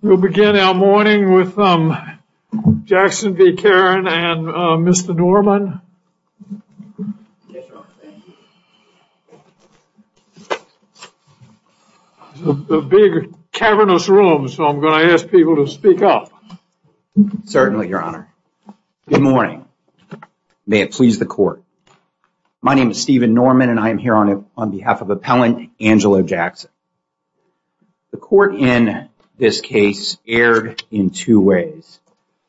We'll begin our morning with Jackson v. Carin and Mr. Norman. This is a big, cavernous room, so I'm going to ask people to speak up. Certainly, Your Honor. Good morning. May it please the Court. My name is Stephen Norman, and I am here on behalf of Appellant Angelo Jackson. The Court in this case erred in two ways.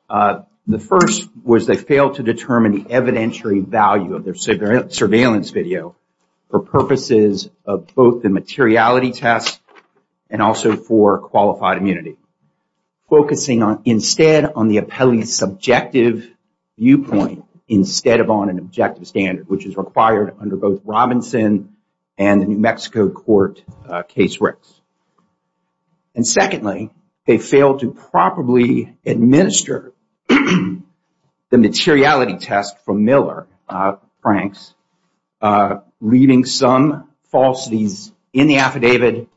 The first was they failed to determine the evidentiary value of their surveillance video for purposes of both the materiality test and also for qualified immunity, focusing instead on the appellee's subjective viewpoint instead of on an objective standard, which is required under both Robinson and the New Mexico Court Case Rex. And secondly, they failed to properly administer the materiality test from Miller, Franks, leaving some falsities in the affidavit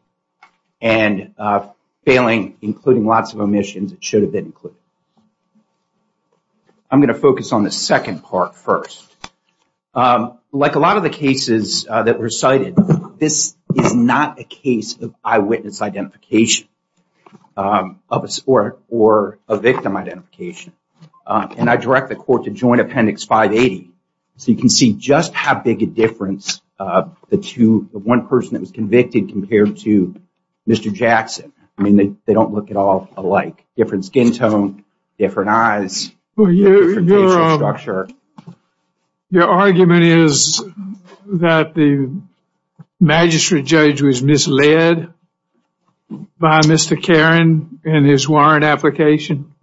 and failing, including lots of omissions that should have been included. I'm going to focus on the second part first. Like a lot of the cases that were cited, this is not a case of eyewitness identification or a victim identification, and I direct the Court to Joint Appendix 580 so you can see just how big a difference the one person that was convicted compared to Mr. Jackson. I mean, they don't look at all alike. Different skin tone, different eyes, different facial structure. Your argument is that the magistrate judge was misled by Mr. Caron in his warrant application?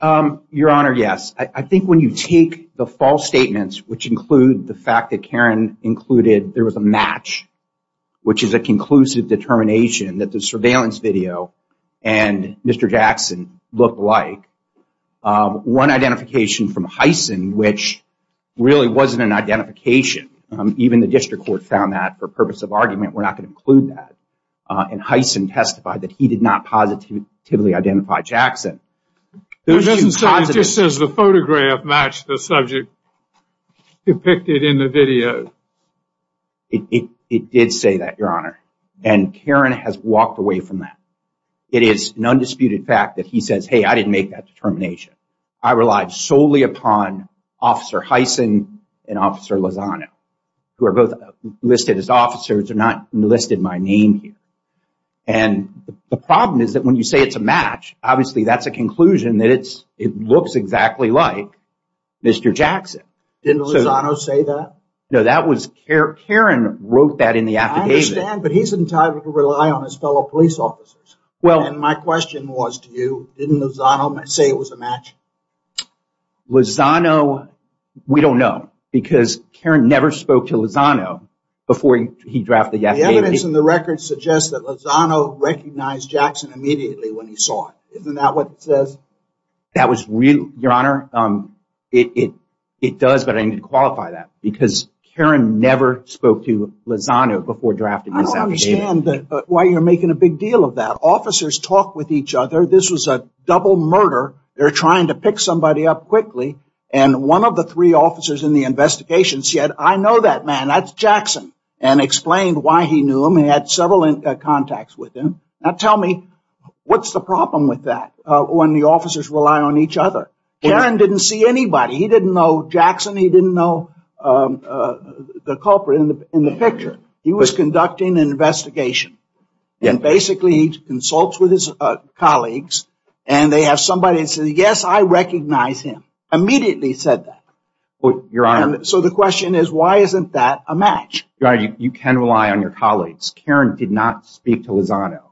Your Honor, yes. I think when you take the false statements, which include the fact that Caron included there was a match, which is a conclusive determination that the surveillance video and Mr. Jackson look alike. One identification from Heysen, which really wasn't an identification. Even the District Court found that for purpose of argument. We're not going to include that. And Heysen testified that he did not positively identify Jackson. It just says the photograph matched the subject depicted in the video. It did say that, Your Honor. And Caron has walked away from that. It is an undisputed fact that he says, hey, I didn't make that determination. I relied solely upon Officer Heysen and Officer Lozano, who are both listed as officers and not listed by name here. And the problem is that when you say it's a match, obviously that's a conclusion that it looks exactly like Mr. Jackson. Didn't Lozano say that? No, Caron wrote that in the affidavit. I understand, but he's entitled to rely on his fellow police officers. And my question was to you, didn't Lozano say it was a match? Lozano, we don't know, because Caron never spoke to Lozano before he drafted the affidavit. The evidence in the record suggests that Lozano recognized Jackson immediately when he saw it. Isn't that what it says? That was real, Your Honor. It does, but I didn't qualify that, because Caron never spoke to Lozano before drafting this affidavit. I don't understand why you're making a big deal of that. Officers talk with each other. This was a double murder. They're trying to pick somebody up quickly. And one of the three officers in the investigation said, I know that man, that's Jackson, and explained why he knew him and had several contacts with him. Now tell me, what's the problem with that when the officers rely on each other? Caron didn't see anybody. He didn't know Jackson. He didn't know the culprit in the picture. He was conducting an investigation, and basically he consults with his colleagues, and they have somebody that says, yes, I recognize him, immediately said that. So the question is, why isn't that a match? Your Honor, you can rely on your colleagues. Caron did not speak to Lozano.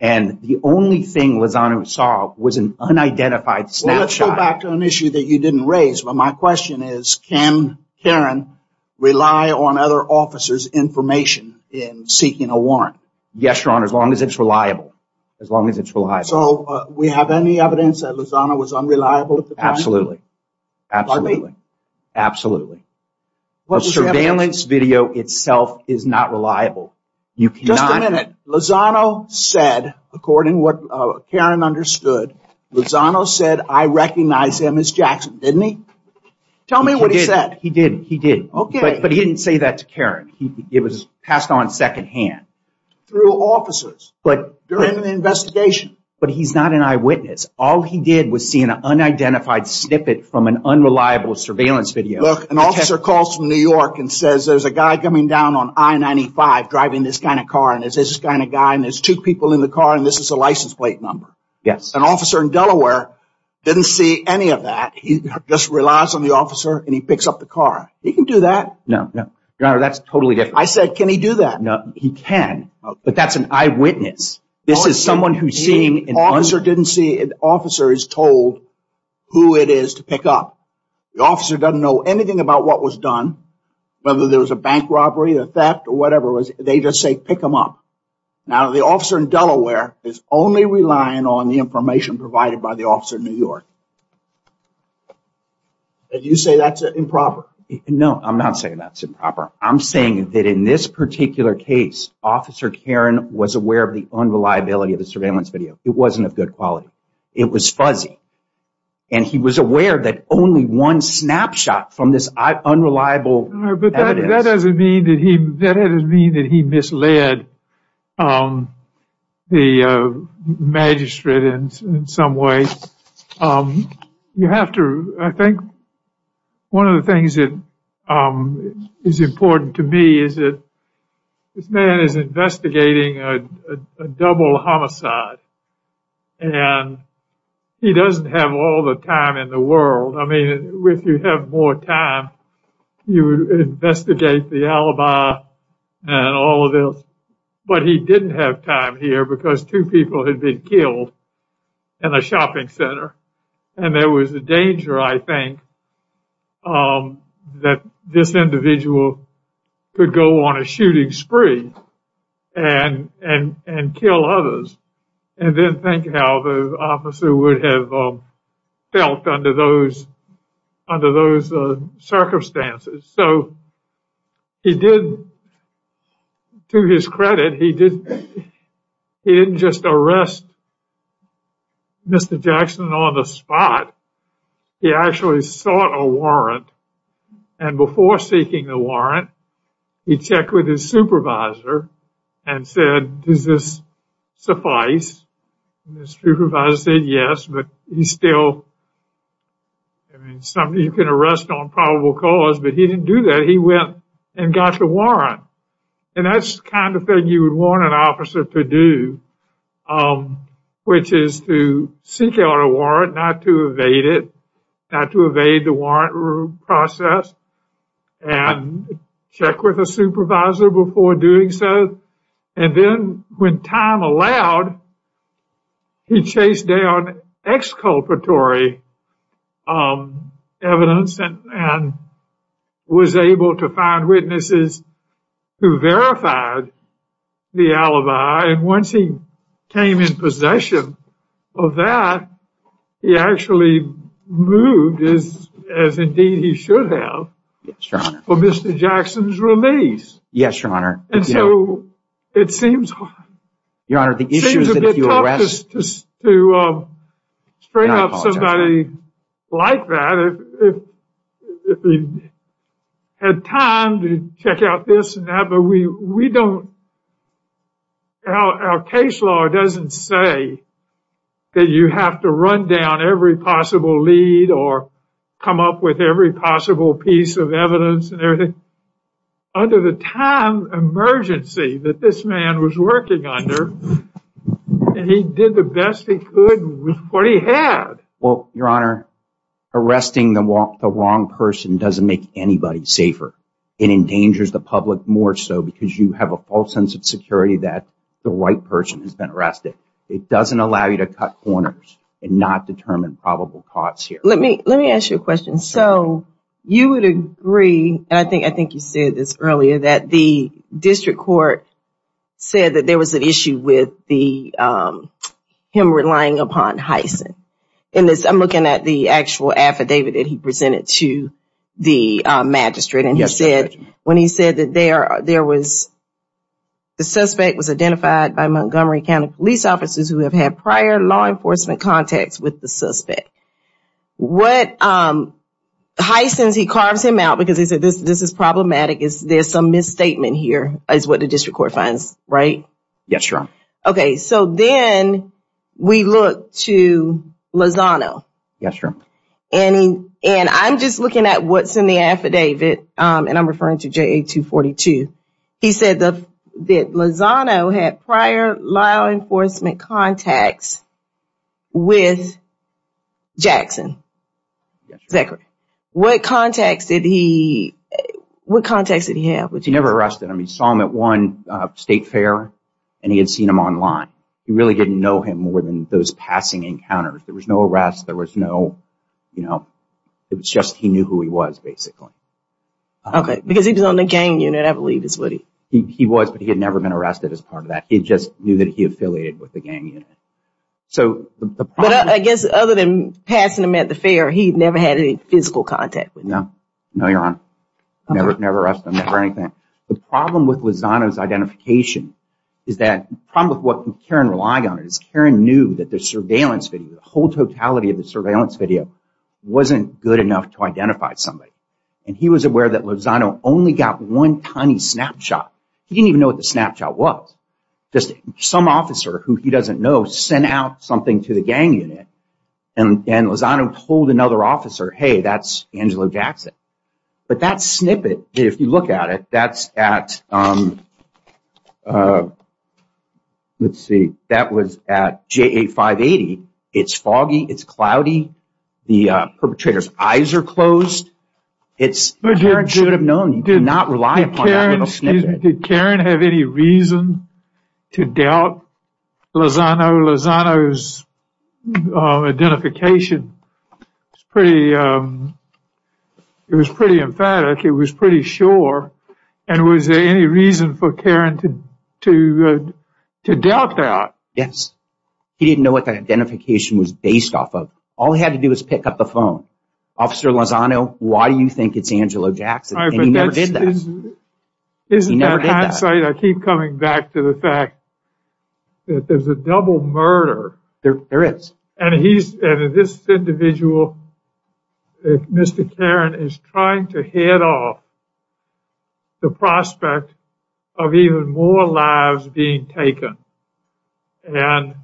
And the only thing Lozano saw was an unidentified snapshot. Well, let's go back to an issue that you didn't raise. My question is, can Caron rely on other officers' information in seeking a warrant? Yes, Your Honor, as long as it's reliable. As long as it's reliable. So we have any evidence that Lozano was unreliable at the time? Absolutely. Pardon me? Absolutely. A surveillance video itself is not reliable. Just a minute. Lozano said, according to what Caron understood, Lozano said, I recognize him as Jackson, didn't he? Tell me what he said. He did. Okay. But he didn't say that to Caron. It was passed on secondhand. Through officers during the investigation. But he's not an eyewitness. All he did was see an unidentified snippet from an unreliable surveillance video. Look, an officer calls from New York and says, there's a guy coming down on I-95 driving this kind of car, and there's this kind of guy, and there's two people in the car, and this is a license plate number. Yes. An officer in Delaware didn't see any of that. He just relies on the officer, and he picks up the car. He can do that. No, no. Your Honor, that's totally different. I said, can he do that? No, he can. But that's an eyewitness. This is someone who's seeing an officer. The officer didn't see. The officer is told who it is to pick up. The officer doesn't know anything about what was done, whether there was a bank robbery, a theft, or whatever it was. They just say, pick him up. Now, the officer in Delaware is only relying on the information provided by the officer in New York. And you say that's improper. No, I'm not saying that's improper. I'm saying that in this particular case, Officer Karen was aware of the unreliability of the surveillance video. It wasn't of good quality. It was fuzzy. And he was aware that only one snapshot from this unreliable evidence. But that doesn't mean that he misled the magistrate in some way. I think one of the things that is important to me is that this man is investigating a double homicide. And he doesn't have all the time in the world. I mean, if you have more time, you would investigate the alibi and all of this. But he didn't have time here because two people had been killed in a shopping center. And there was a danger, I think, that this individual could go on a shooting spree and kill others. And then think how the officer would have felt under those circumstances. So he did, to his credit, he didn't just arrest Mr. Jackson on the spot. He actually sought a warrant. And before seeking the warrant, he checked with his supervisor and said, does this suffice? And his supervisor said, yes. But he's still, I mean, somebody you can arrest on probable cause. But he didn't do that. He went and got the warrant. And that's the kind of thing you would want an officer to do, which is to seek out a warrant, not to evade it. Not to evade the warrant process. And check with a supervisor before doing so. And then when time allowed, he chased down exculpatory evidence and was able to find witnesses who verified the alibi. And once he came in possession of that, he actually moved, as indeed he should have, for Mr. Jackson's release. Yes, Your Honor. And so it seems hard. Your Honor, the issue is that if you arrest... It seems a bit tough to string up somebody like that if you had time to check out this and that. But we don't, our case law doesn't say that you have to run down every possible lead or come up with every possible piece of evidence and everything. Under the time emergency that this man was working under, he did the best he could with what he had. Well, Your Honor, arresting the wrong person doesn't make anybody safer. It endangers the public more so because you have a false sense of security that the right person has been arrested. It doesn't allow you to cut corners and not determine probable cause here. Let me ask you a question. So you would agree, and I think you said this earlier, that the district court said that there was an issue with him relying upon hyacinth. I'm looking at the actual affidavit that he presented to the magistrate. Yes, Your Honor. And he said that the suspect was identified by Montgomery County police officers who have had prior law enforcement contacts with the suspect. What, hyacinth, he carves him out because he said this is problematic, there's some misstatement here is what the district court finds, right? Yes, Your Honor. Okay, so then we look to Lozano. Yes, Your Honor. And I'm just looking at what's in the affidavit, and I'm referring to JA 242. He said that Lozano had prior law enforcement contacts with Jackson. Yes, Your Honor. What contacts did he have with Jackson? He never arrested him. He saw him at one state fair, and he had seen him online. He really didn't know him more than those passing encounters. There was no arrest, there was no, you know, it was just he knew who he was, basically. Okay, because he was on the gang unit, I believe is what he. He was, but he had never been arrested as part of that. He just knew that he affiliated with the gang unit. But I guess other than passing him at the fair, he never had any physical contact with him. No, Your Honor. Never arrested him, never anything. The problem with Lozano's identification is that, the problem with what Karen relied on is Karen knew that the surveillance video, the whole totality of the surveillance video wasn't good enough to identify somebody. And he was aware that Lozano only got one tiny snapshot. He didn't even know what the snapshot was. Just some officer who he doesn't know sent out something to the gang unit. And Lozano told another officer, hey, that's Angelo Jackson. But that snippet, if you look at it, that's at, let's see, that was at JA 580. It's foggy. It's cloudy. The perpetrator's eyes are closed. Karen should have known. You cannot rely upon that little snippet. Did Karen have any reason to doubt Lozano? Lozano's identification was pretty emphatic. It was pretty sure. And was there any reason for Karen to doubt that? Yes. He didn't know what that identification was based off of. All he had to do was pick up the phone. Officer Lozano, why do you think it's Angelo Jackson? And he never did that. I keep coming back to the fact that there's a double murder. There is. And this individual, Mr. Karen, is trying to head off the prospect of even more lives being taken. And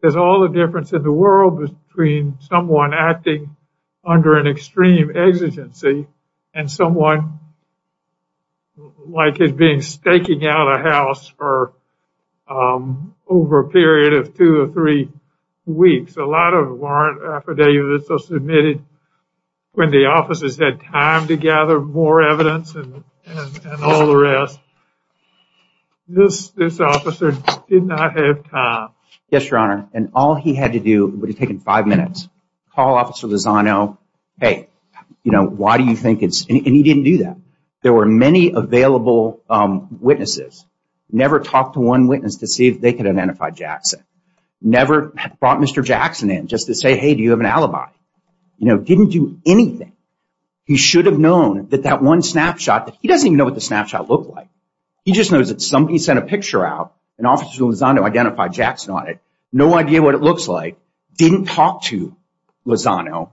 there's all the difference in the world between someone acting under an extreme exigency and someone like as being staking out a house for over a period of two or three weeks. A lot of warrant affidavits are submitted when the officers had time to gather more evidence and all the rest. This officer did not have time. Yes, Your Honor. And all he had to do would have taken five minutes. Call Officer Lozano. Hey, you know, why do you think it's? And he didn't do that. There were many available witnesses. Never talked to one witness to see if they could identify Jackson. Never brought Mr. Jackson in just to say, hey, do you have an alibi? You know, didn't do anything. He should have known that that one snapshot. He doesn't even know what the snapshot looked like. He just knows that somebody sent a picture out and Officer Lozano identified Jackson on it. No idea what it looks like. Didn't talk to Lozano.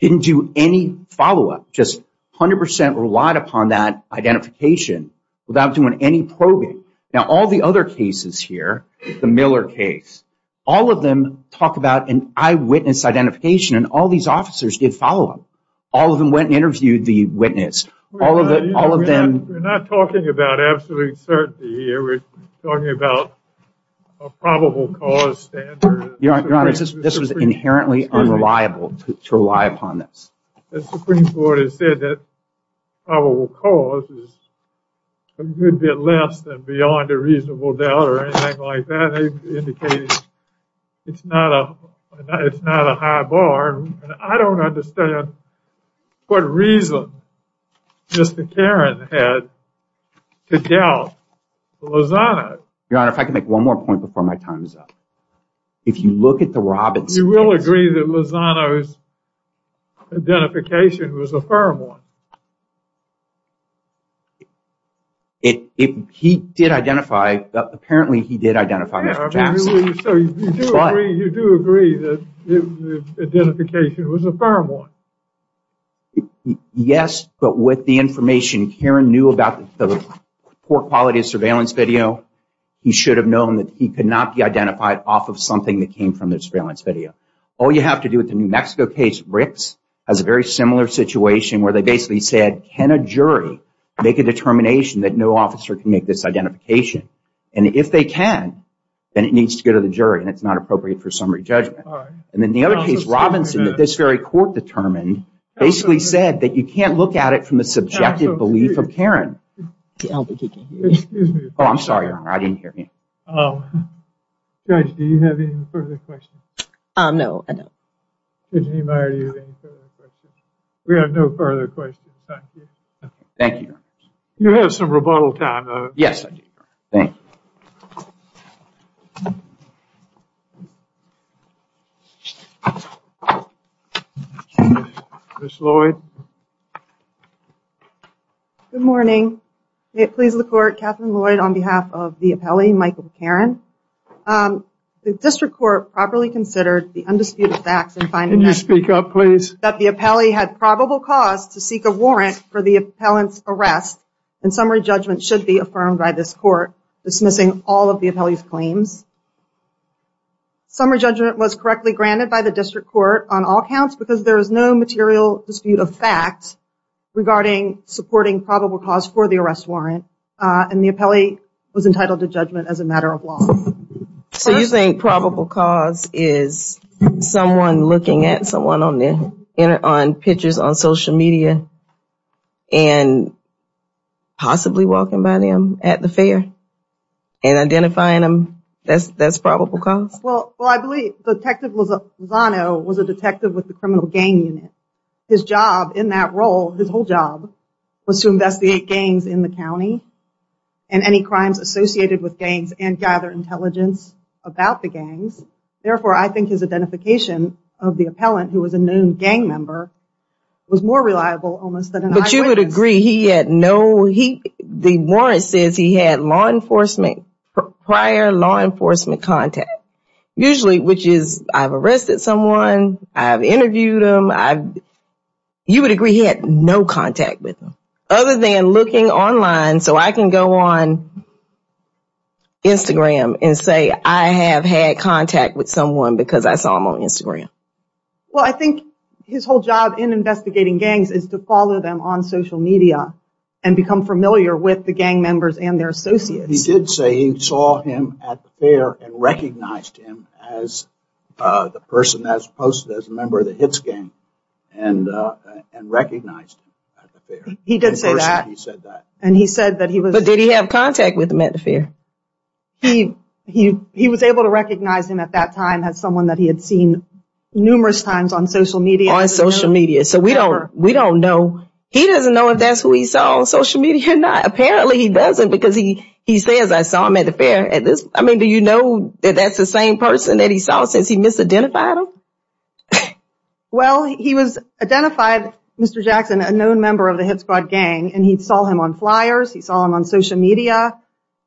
Didn't do any follow-up. Just 100% relied upon that identification without doing any probing. Now, all the other cases here, the Miller case, all of them talk about an eyewitness identification, and all these officers did follow them. All of them went and interviewed the witness. All of them. We're not talking about absolute certainty here. We're talking about a probable cause standard. Your Honor, this was inherently unreliable to rely upon this. The Supreme Court has said that probable cause is a good bit less than beyond a reasonable doubt or anything like that. They've indicated it's not a high bar. I don't understand what reason Mr. Caron had to doubt Lozano. Your Honor, if I could make one more point before my time is up. If you look at the Robbins case. You will agree that Lozano's identification was a firm one. He did identify, apparently he did identify Mr. Jackson. You do agree that the identification was a firm one. Yes, but with the information Caron knew about the poor quality of surveillance video, he should have known that he could not be identified off of something that came from the surveillance video. All you have to do with the New Mexico case, Ricks, has a very similar situation where they basically said, can a jury make a determination that no officer can make this identification? And if they can, then it needs to go to the jury and it's not appropriate for summary judgment. And then the other case, Robinson, that this very court determined, basically said that you can't look at it from the subjective belief of Caron. Excuse me. Oh, I'm sorry, Your Honor, I didn't hear you. Judge, do you have any further questions? No, I don't. We have no further questions. Thank you. Thank you. You have some rebuttal time, though. Yes, I do. Thank you. Ms. Lloyd. Good morning. May it please the Court, Catherine Lloyd on behalf of the appellee, Michael Caron. The district court properly considered the undisputed facts in finding that the appellee had probable cause to seek a warrant for the dismissing all of the appellee's claims. Summary judgment was correctly granted by the district court on all counts because there is no material dispute of fact regarding supporting probable cause for the arrest warrant. And the appellee was entitled to judgment as a matter of law. So you think probable cause is someone looking at someone on pictures on social media and possibly walking by them at the fair and identifying them, that's probable cause? Well, I believe Detective Lozano was a detective with the criminal gang unit. His job in that role, his whole job, was to investigate gangs in the county and any crimes associated with gangs and gather intelligence about the gangs. Therefore, I think his identification of the appellant, who was a known gang member, was more reliable almost than an eyewitness. But you would agree he had no, the warrant says he had law enforcement, prior law enforcement contact. Usually, which is, I've arrested someone, I've interviewed them, I've, you would agree he had no contact with them. Other than looking online, so I can go on Instagram and say I have had contact with someone because I saw them on Instagram. Well, I think his whole job in investigating gangs is to follow them on social media and become familiar with the gang members and their associates. He did say he saw him at the fair and recognized him as the person that was posted as a member of the HITS gang and recognized him at the fair. He did say that. But did he have contact with him at the fair? He was able to recognize him at that time as someone that he had seen numerous times on social media. On social media, so we don't know. He doesn't know if that's who he saw on social media or not. Apparently he doesn't because he says I saw him at the fair. I mean, do you know that that's the same person that he saw since he misidentified him? Well, he was identified, Mr. Jackson, a known member of the HITS squad gang, and he saw him on flyers. He saw him on social media,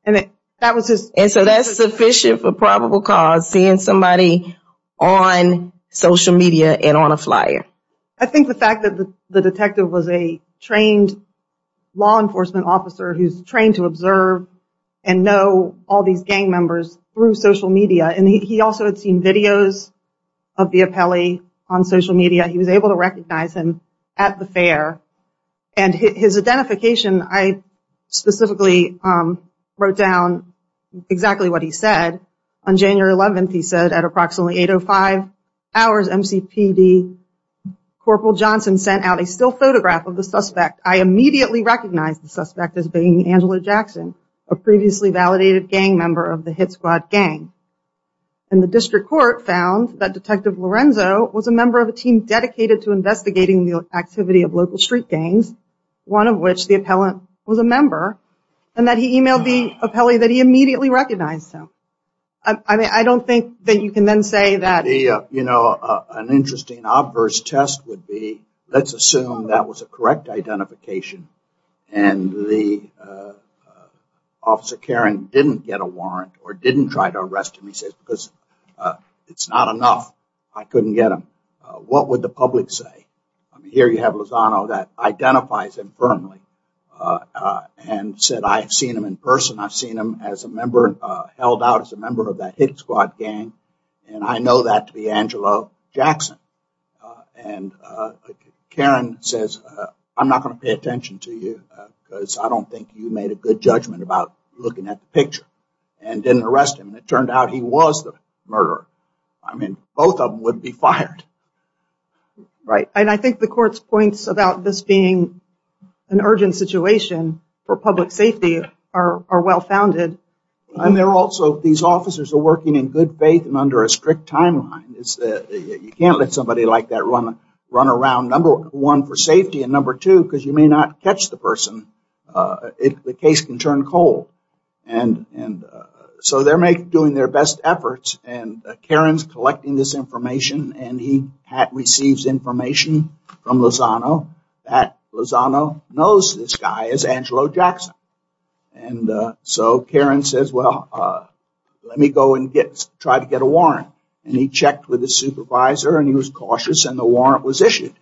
and that was his. And so that's sufficient for probable cause, seeing somebody on social media and on a flyer. I think the fact that the detective was a trained law enforcement officer who's trained to observe and know all these gang members through social media. And he also had seen videos of Biapelli on social media. He was able to recognize him at the fair. And his identification, I specifically wrote down exactly what he said. On January 11th, he said at approximately 8.05 hours MCPD, Corporal Johnson sent out a still photograph of the suspect. I immediately recognized the suspect as being Angela Jackson, a previously validated gang member of the HITS squad gang. And the district court found that Detective Lorenzo was a member of a team dedicated to investigating the activity of local street gangs, one of which the appellant was a member, and that he emailed the appellee that he immediately recognized him. I don't think that you can then say that... You know, an interesting obverse test would be, let's assume that was a correct identification, and the officer Karen didn't get a warrant or didn't try to arrest him. He says, because it's not enough, I couldn't get him. What would the public say? Here you have Lozano that identifies him firmly and said, I've seen him in person. I've seen him held out as a member of that HITS squad gang, and I know that to be Angela Jackson. And Karen says, I'm not going to pay attention to you because I don't think you made a good judgment about looking at the picture and didn't arrest him, and it turned out he was the murderer. I mean, both of them would be fired. Right. And I think the court's points about this being an urgent situation for public safety are well founded. And they're also, these officers are working in good faith and under a strict timeline. You can't let somebody like that run around, number one, for safety, and number two, because you may not catch the person. The case can turn cold. And so they're doing their best efforts, and Karen's collecting this information, and he receives information from Lozano that Lozano knows this guy is Angela Jackson. And so Karen says, well, let me go and try to get a warrant. And he checked with his supervisor, and he was cautious, and the warrant was issued.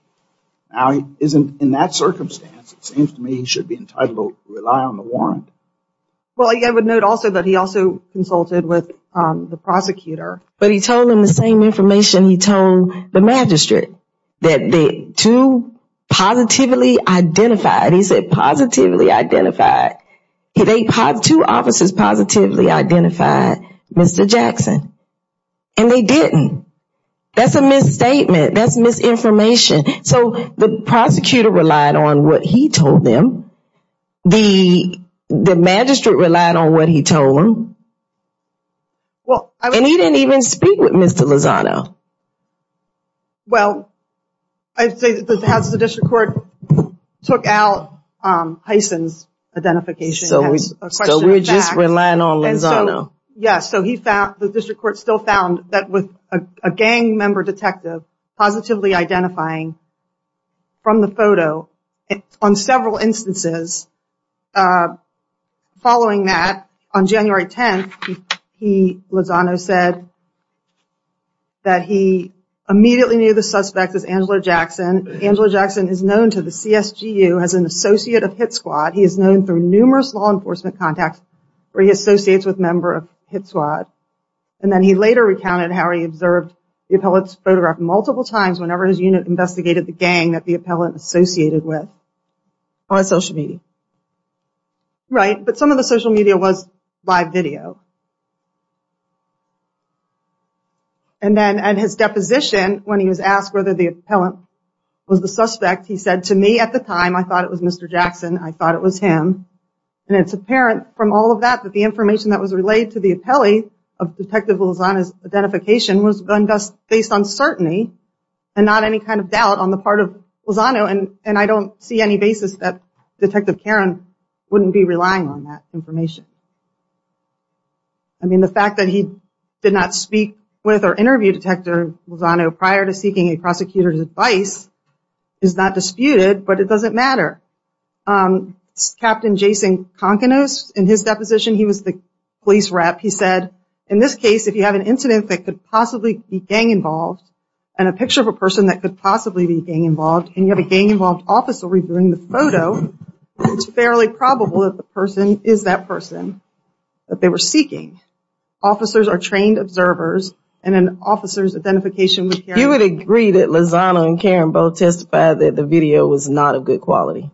Now, in that circumstance, it seems to me he should be entitled to rely on the warrant. Well, I would note also that he also consulted with the prosecutor. But he told them the same information he told the magistrate, that the two positively identified. He said positively identified. Two officers positively identified Mr. Jackson, and they didn't. That's a misstatement. That's misinformation. So the prosecutor relied on what he told them. The magistrate relied on what he told them. And he didn't even speak with Mr. Lozano. Well, I'd say that as the district court took out Heisen's identification as a question of fact. So we're just relying on Lozano. Yes, so the district court still found that with a gang member detective positively identifying from the photo, on several instances. Following that, on January 10th, Lozano said that he immediately knew the suspect as Angela Jackson. Angela Jackson is known to the CSGU as an associate of Hit Squad. He is known through numerous law enforcement contacts where he associates with a member of Hit Squad. And then he later recounted how he observed the appellate's photograph multiple times whenever his unit investigated the gang that the appellant associated with on social media. Right, but some of the social media was live video. And then at his deposition, when he was asked whether the appellant was the suspect, he said, to me at the time, I thought it was Mr. Jackson. I thought it was him. And it's apparent from all of that that the information that was relayed to the appellee of Detective Lozano's and not any kind of doubt on the part of Lozano. And I don't see any basis that Detective Karen wouldn't be relying on that information. I mean, the fact that he did not speak with or interview Detective Lozano prior to seeking a prosecutor's advice is not disputed, but it doesn't matter. Captain Jason Konkonos, in his deposition, he was the police rep. He said, in this case, if you have an incident that could possibly be gang-involved and a picture of a person that could possibly be gang-involved, and you have a gang-involved officer reviewing the photo, it's fairly probable that the person is that person that they were seeking. Officers are trained observers, and an officer's identification with Karen. You would agree that Lozano and Karen both testified that the video was not of good quality.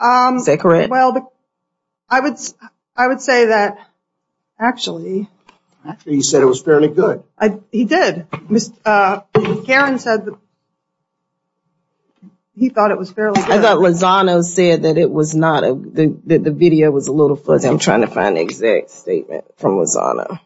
Is that correct? Well, I would say that actually. He said it was fairly good. He did. Karen said that he thought it was fairly good. I thought Lozano said that the video was a little fuzzy. I'm trying to find the exact statement from Lozano.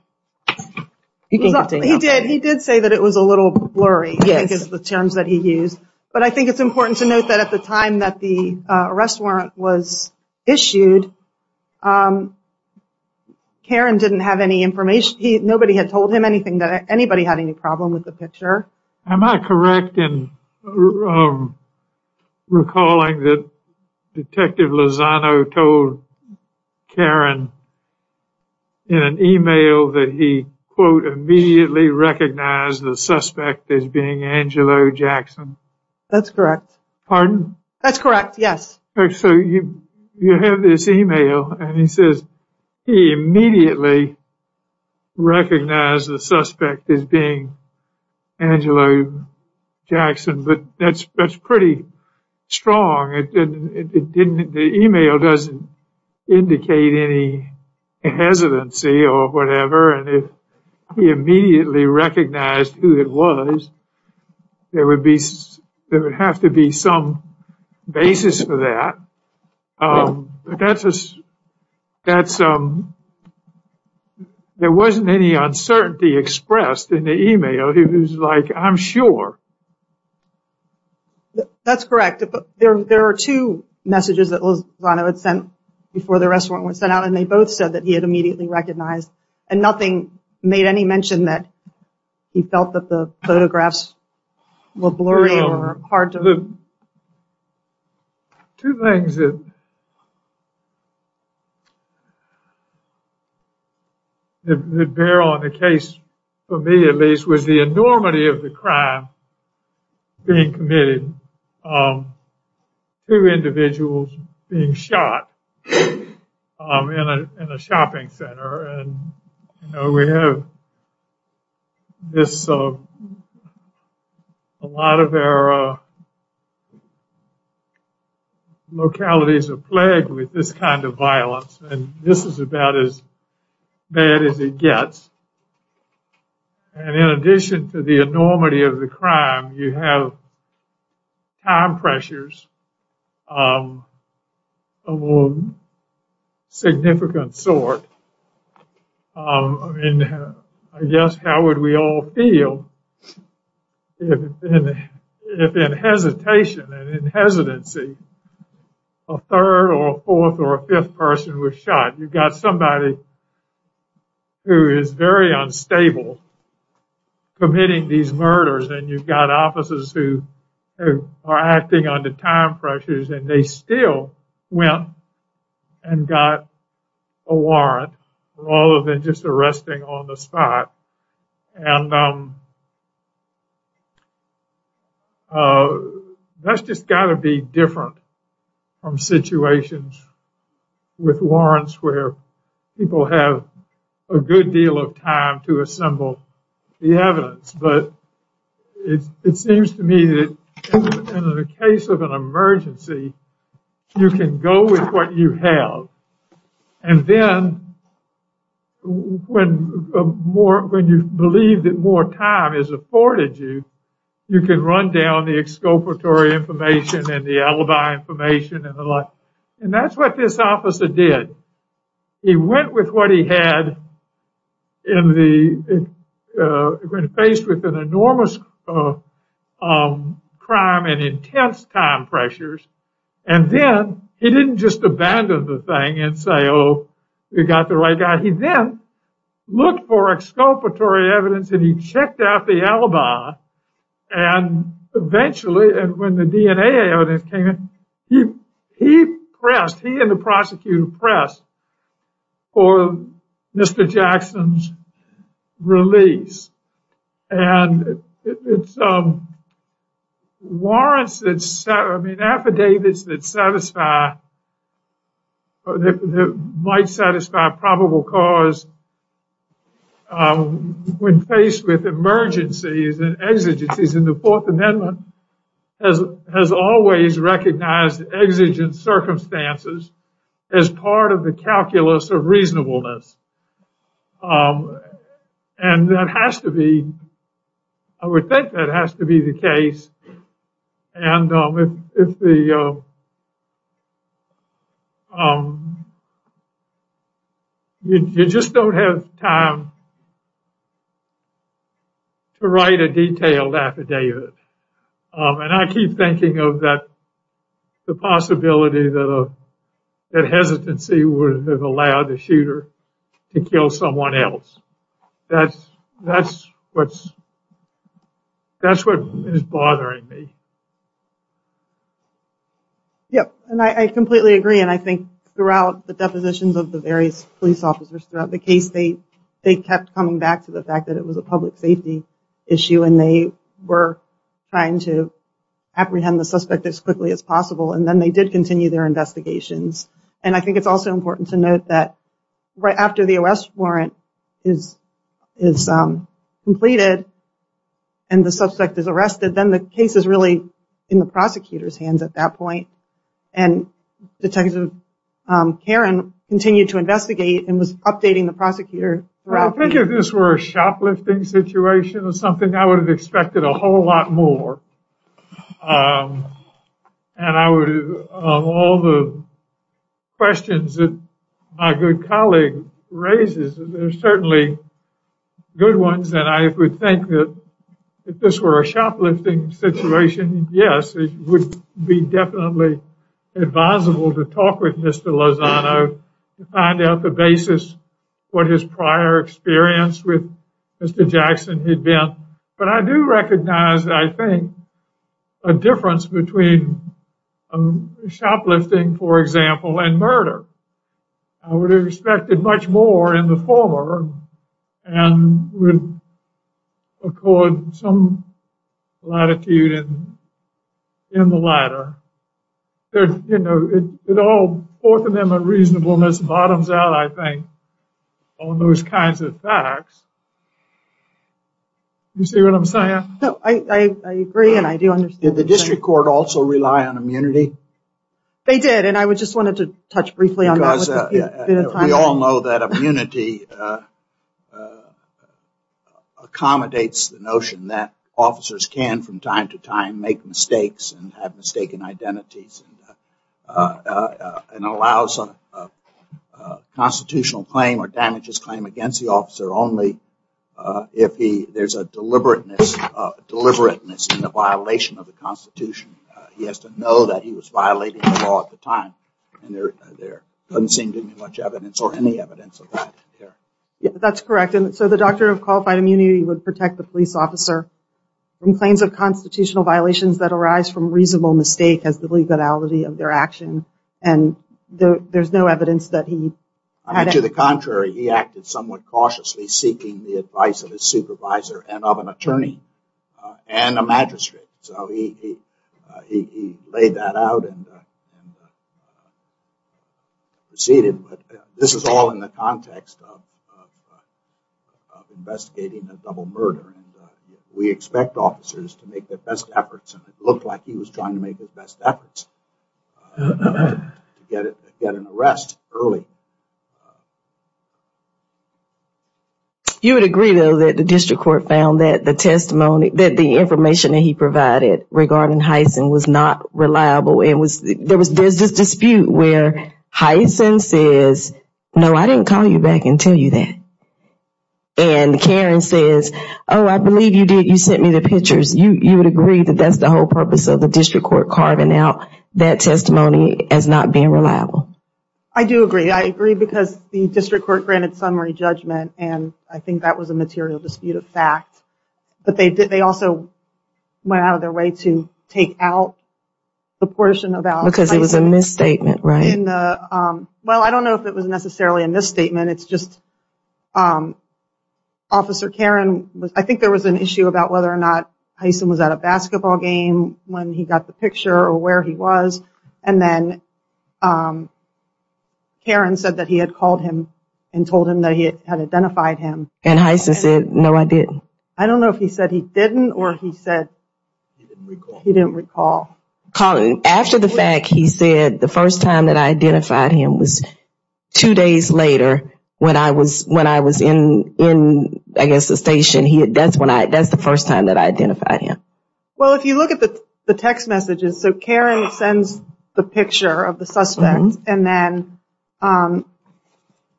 He did say that it was a little blurry, I think is the terms that he used. But I think it's important to note that at the time that the arrest warrant was issued, Karen didn't have any information. Nobody had told him anything, that anybody had any problem with the picture. Am I correct in recalling that Detective Lozano told Karen in an e-mail that he, quote, immediately recognized the suspect as being Angelo Jackson? That's correct. Pardon? That's correct, yes. So you have this e-mail, and he says he immediately recognized the suspect as being Angelo Jackson, but that's pretty strong. The e-mail doesn't indicate any hesitancy or whatever, and if he immediately recognized who it was, there would have to be some basis for that. There wasn't any uncertainty expressed in the e-mail. He was like, I'm sure. That's correct. There are two messages that Lozano had sent before the arrest warrant was sent out, and they both said that he had immediately recognized, and nothing made any mention that he felt that the photographs were blurry or hard to look at. One of the things that bear on the case, for me at least, was the enormity of the crime being committed, two individuals being shot in a shopping center. We have a lot of our localities are plagued with this kind of violence, and this is about as bad as it gets. And in addition to the enormity of the crime, you have time pressures of a more significant sort, and I guess how would we all feel if in hesitation and in hesitancy, a third or a fourth or a fifth person was shot. You've got somebody who is very unstable committing these murders, and you've got officers who are acting under time pressures, and they still went and got a warrant rather than just arresting on the spot. And that's just got to be different from situations with warrants where people have a good deal of time to assemble the evidence. But it seems to me that in the case of an emergency, you can go with what you have. And then when you believe that more time is afforded you, you can run down the exculpatory information and the alibi information and the like. And that's what this officer did. He went with what he had when faced with an enormous crime and intense time pressures, and then he didn't just abandon the thing and say, oh, we got the right guy. He then looked for exculpatory evidence, and he checked out the alibi, and eventually when the DNA came in, he and the prosecutor pressed for Mr. Jackson's release. And it's warrants that, I mean, affidavits that satisfy, that might satisfy probable cause when faced with emergencies and exigencies. And the Fourth Amendment has always recognized exigent circumstances as part of the calculus of reasonableness. And that has to be, I would think that has to be the case. And if the, you just don't have time to write a detailed affidavit. And I keep thinking of that, the possibility that hesitancy would have allowed the shooter to kill someone else. That's what's, that's what is bothering me. Yep, and I completely agree. And I think throughout the depositions of the various police officers throughout the case, they kept coming back to the fact that it was a public safety issue, and they were trying to apprehend the suspect as quickly as possible. And then they did continue their investigations. And I think it's also important to note that right after the arrest warrant is completed and the suspect is arrested, then the case is really in the prosecutor's hands at that point. And Detective Karen continued to investigate and was updating the prosecutor. I think if this were a shoplifting situation or something, I would have expected a whole lot more. And I would, of all the questions that my good colleague raises, there's certainly good ones. And I would think that if this were a shoplifting situation, yes, it would be definitely advisable to talk with Mr. Lozano to find out the basis, what his prior experience with Mr. Jackson had been. But I do recognize, I think, a difference between shoplifting, for example, and murder. I would have expected much more in the former and would accord some latitude in the latter. You know, both of them are reasonable, and this bottoms out, I think, on those kinds of facts. You see what I'm saying? No, I agree, and I do understand. Did the district court also rely on immunity? They did, and I just wanted to touch briefly on that. We all know that immunity accommodates the notion that officers can, from time to time, make mistakes and have mistaken identities and allows a constitutional claim or damages claim against the officer only if there's a deliberateness in the violation of the Constitution. He has to know that he was violating the law at the time, and there doesn't seem to be much evidence or any evidence of that here. That's correct, and so the doctrine of qualified immunity would protect the police officer from claims of constitutional violations that arise from reasonable mistake as the legality of their action, and there's no evidence that he had any. To the contrary, he acted somewhat cautiously seeking the advice of his supervisor and of an attorney and a magistrate. So he laid that out and proceeded. This is all in the context of investigating a double murder. We expect officers to make their best efforts, and it looked like he was trying to make his best efforts to get an arrest early. You would agree, though, that the district court found that the testimony, that the information that he provided regarding Hyson was not reliable. There's this dispute where Hyson says, no, I didn't call you back and tell you that, and Karen says, oh, I believe you did. You sent me the pictures. You would agree that that's the whole purpose of the district court carving out that testimony as not being reliable. I do agree. I agree because the district court granted summary judgment, and I think that was a material dispute of fact, but they also went out of their way to take out the portion about Hyson. Because it was a misstatement, right? Well, I don't know if it was necessarily a misstatement. It's just Officer Karen, I think there was an issue about whether or not Hyson was at a basketball game when he got the picture or where he was, and then Karen said that he had called him and told him that he had identified him. And Hyson said, no, I didn't. I don't know if he said he didn't or he said he didn't recall. After the fact, he said the first time that I identified him was two days later when I was in, I guess, the station. That's the first time that I identified him. Well, if you look at the text messages, so Karen sends the picture of the suspect, and then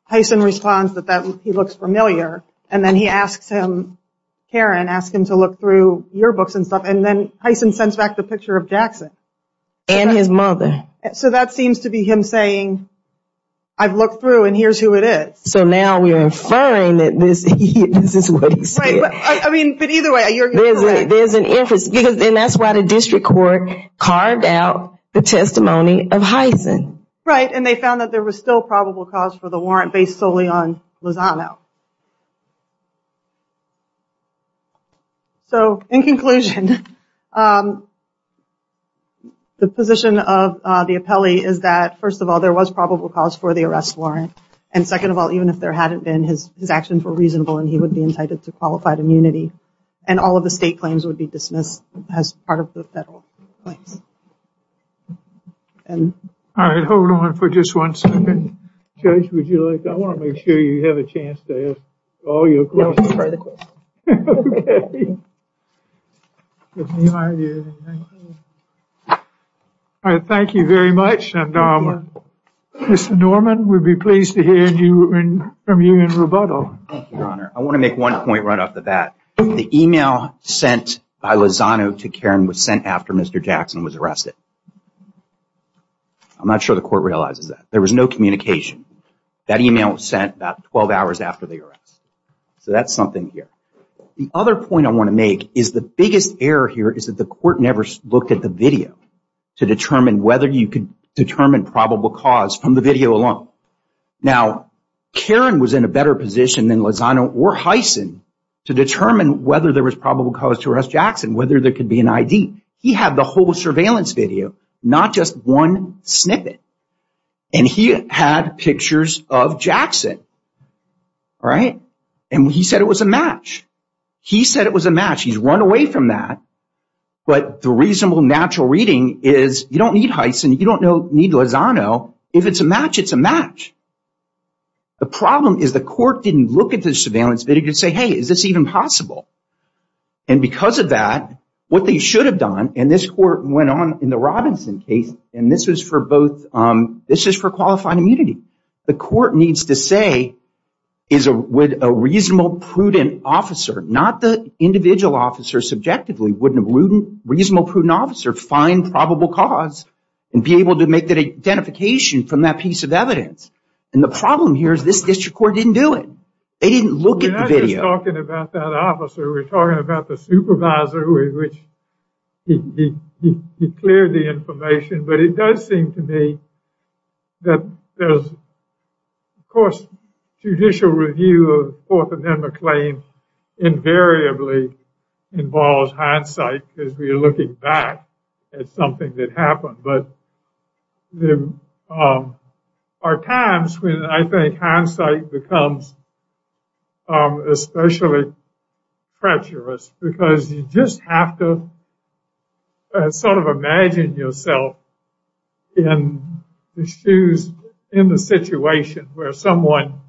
Hyson responds that he looks familiar, and then Karen asks him to look through your books and stuff, and then Hyson sends back the picture of Jackson. And his mother. So that seems to be him saying, I've looked through and here's who it is. So now we're inferring that this is what he said. But either way, you're correct. There's an inference, and that's why the district court carved out the testimony of Hyson. Right, and they found that there was still probable cause for the warrant based solely on Lozano. So in conclusion, the position of the appellee is that, first of all, there was probable cause for the arrest warrant, and second of all, even if there hadn't been, his actions were reasonable and he would be entitled to qualified immunity, and all of the state claims would be dismissed as part of the federal claims. All right, hold on for just one second. Judge, would you like, I want to make sure you have a chance to ask all your questions. Okay. All right, thank you very much. Mr. Norman, we'd be pleased to hear from you in rebuttal. Thank you, Your Honor. I want to make one point right off the bat. The email sent by Lozano to Karen was sent after Mr. Jackson was arrested. I'm not sure the court realizes that. There was no communication. That email was sent about 12 hours after the arrest. So that's something here. The other point I want to make is the biggest error here is that the court never looked at the video to determine whether you could determine probable cause from the video alone. Now, Karen was in a better position than Lozano or Heisen to determine whether there was probable cause to arrest Jackson, whether there could be an ID. He had the whole surveillance video, not just one snippet, and he had pictures of Jackson. All right? And he said it was a match. He said it was a match. He's run away from that. But the reasonable, natural reading is you don't need Heisen, you don't need Lozano. If it's a match, it's a match. The problem is the court didn't look at the surveillance video to say, hey, is this even possible? And because of that, what they should have done, and this court went on in the Robinson case, and this is for qualified immunity. The court needs to say, would a reasonable, prudent officer, not the individual officer subjectively, wouldn't a reasonable, prudent officer find probable cause and be able to make that identification from that piece of evidence? And the problem here is this district court didn't do it. They didn't look at the video. We're not just talking about that officer. We're talking about the supervisor with which he cleared the information. But it does seem to me that there's, of course, judicial review of Fourth Amendment claims invariably involves hindsight because we're looking back at something that happened. But there are times when I think hindsight becomes especially treacherous because you just have to sort of imagine yourself in the shoes, in the situation where someone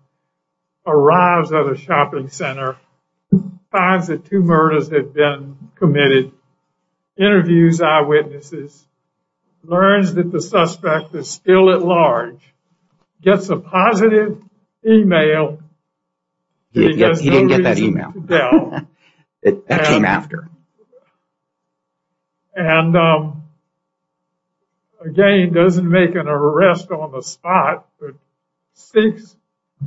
arrives at a shopping center, finds that two murders have been committed, interviews eyewitnesses, learns that the suspect is still at large, gets a positive email. He didn't get that email. That came after. And again, doesn't make an arrest on the spot, but seeks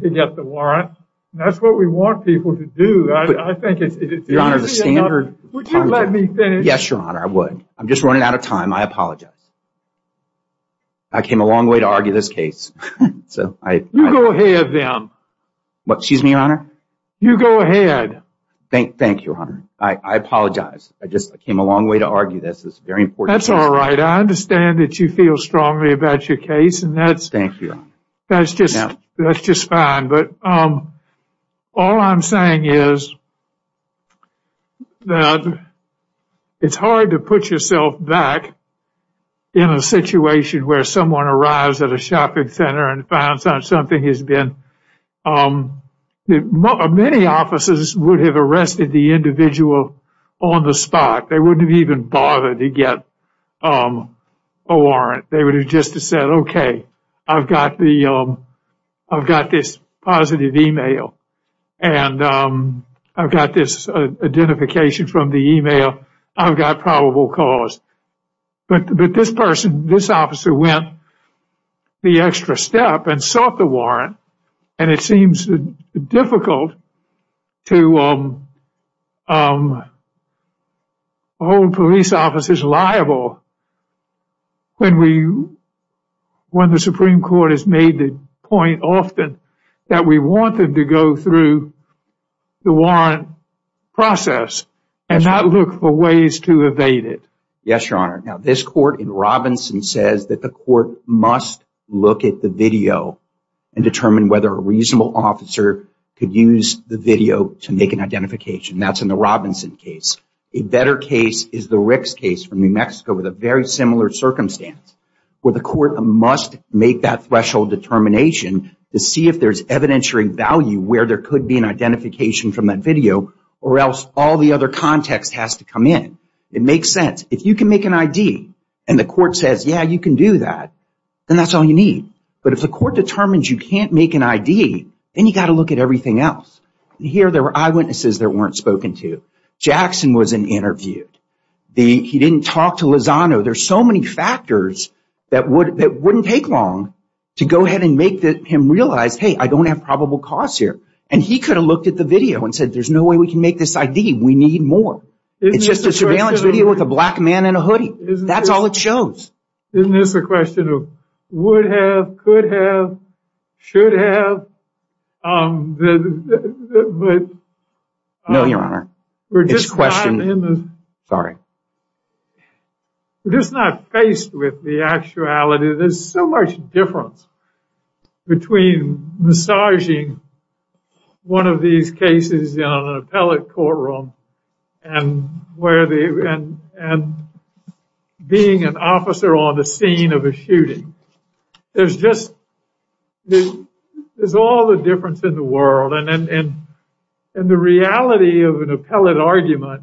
to get the warrant. That's what we want people to do. I think it's easy enough. Would you let me finish? Yes, Your Honor, I would. I'm just running out of time. I apologize. I came a long way to argue this case. You go ahead then. Excuse me, Your Honor? You go ahead. Thank you, Your Honor. I apologize. I just came a long way to argue this. It's very important. That's all right. I understand that you feel strongly about your case. Thank you. That's just fine. All I'm saying is that it's hard to put yourself back in a situation where someone arrives at a shopping center and finds out something has been. Many officers would have arrested the individual on the spot. They wouldn't have even bothered to get a warrant. They would have just said, okay, I've got this positive e-mail, and I've got this identification from the e-mail. I've got probable cause. But this person, this officer, went the extra step and sought the warrant, and it seems difficult to hold police officers liable when the Supreme Court has made the point often that we want them to go through the warrant process and not look for ways to evade it. Yes, Your Honor. Now, this court in Robinson says that the court must look at the video and determine whether a reasonable officer could use the video to make an identification. That's in the Robinson case. A better case is the Ricks case from New Mexico with a very similar circumstance where the court must make that threshold determination to see if there's evidentiary value where there could be an identification from that video or else all the other context has to come in. It makes sense. If you can make an ID and the court says, yeah, you can do that, then that's all you need. But if the court determines you can't make an ID, then you've got to look at everything else. Here there were eyewitnesses that weren't spoken to. Jackson wasn't interviewed. He didn't talk to Lozano. There's so many factors that wouldn't take long to go ahead and make him realize, hey, I don't have probable cause here. And he could have looked at the video and said, there's no way we can make this ID. We need more. It's just a surveillance video with a black man in a hoodie. That's all it shows. Isn't this a question of would have, could have, should have? No, Your Honor. It's a question. Sorry. We're just not faced with the actuality. There's so much difference between massaging one of these cases in an appellate courtroom and being an officer on the scene of a shooting. There's just, there's all the difference in the world. And the reality of an appellate argument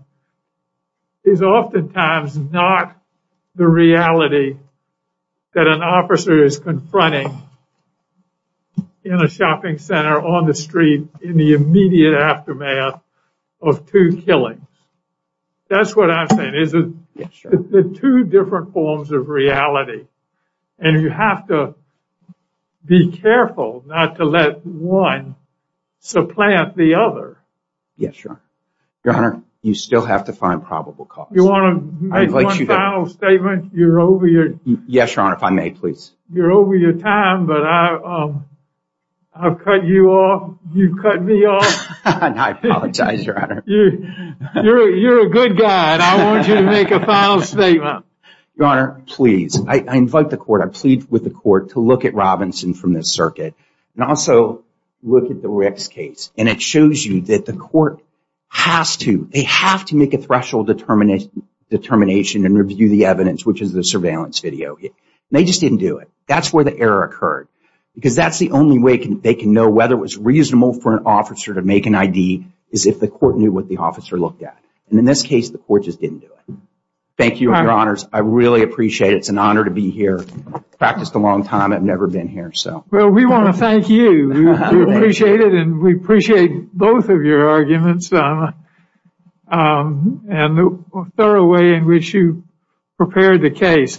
is oftentimes not the reality that an officer is confronting in a shopping center on the street in the immediate aftermath of two killings. That's what I'm saying. It's the two different forms of reality. And you have to be careful not to let one supplant the other. Yes, Your Honor. Your Honor, you still have to find probable cause. You want to make one final statement? You're over your... Yes, Your Honor. If I may, please. You're over your time, but I've cut you off. You've cut me off. I apologize, Your Honor. You're a good guy, and I want you to make a final statement. Your Honor, please. I invite the court, I plead with the court to look at Robinson from this circuit, and also look at the Ricks case. And it shows you that the court has to, they have to make a threshold determination and review the evidence, which is the surveillance video. And they just didn't do it. That's where the error occurred. Because that's the only way they can know whether it was reasonable for an officer to make an ID is if the court knew what the officer looked at. And in this case, the court just didn't do it. Thank you, Your Honors. I really appreciate it. It's an honor to be here. Practiced a long time. I've never been here, so. Well, we want to thank you. We appreciate it, and we appreciate both of your arguments and the thorough way in which you prepared the case.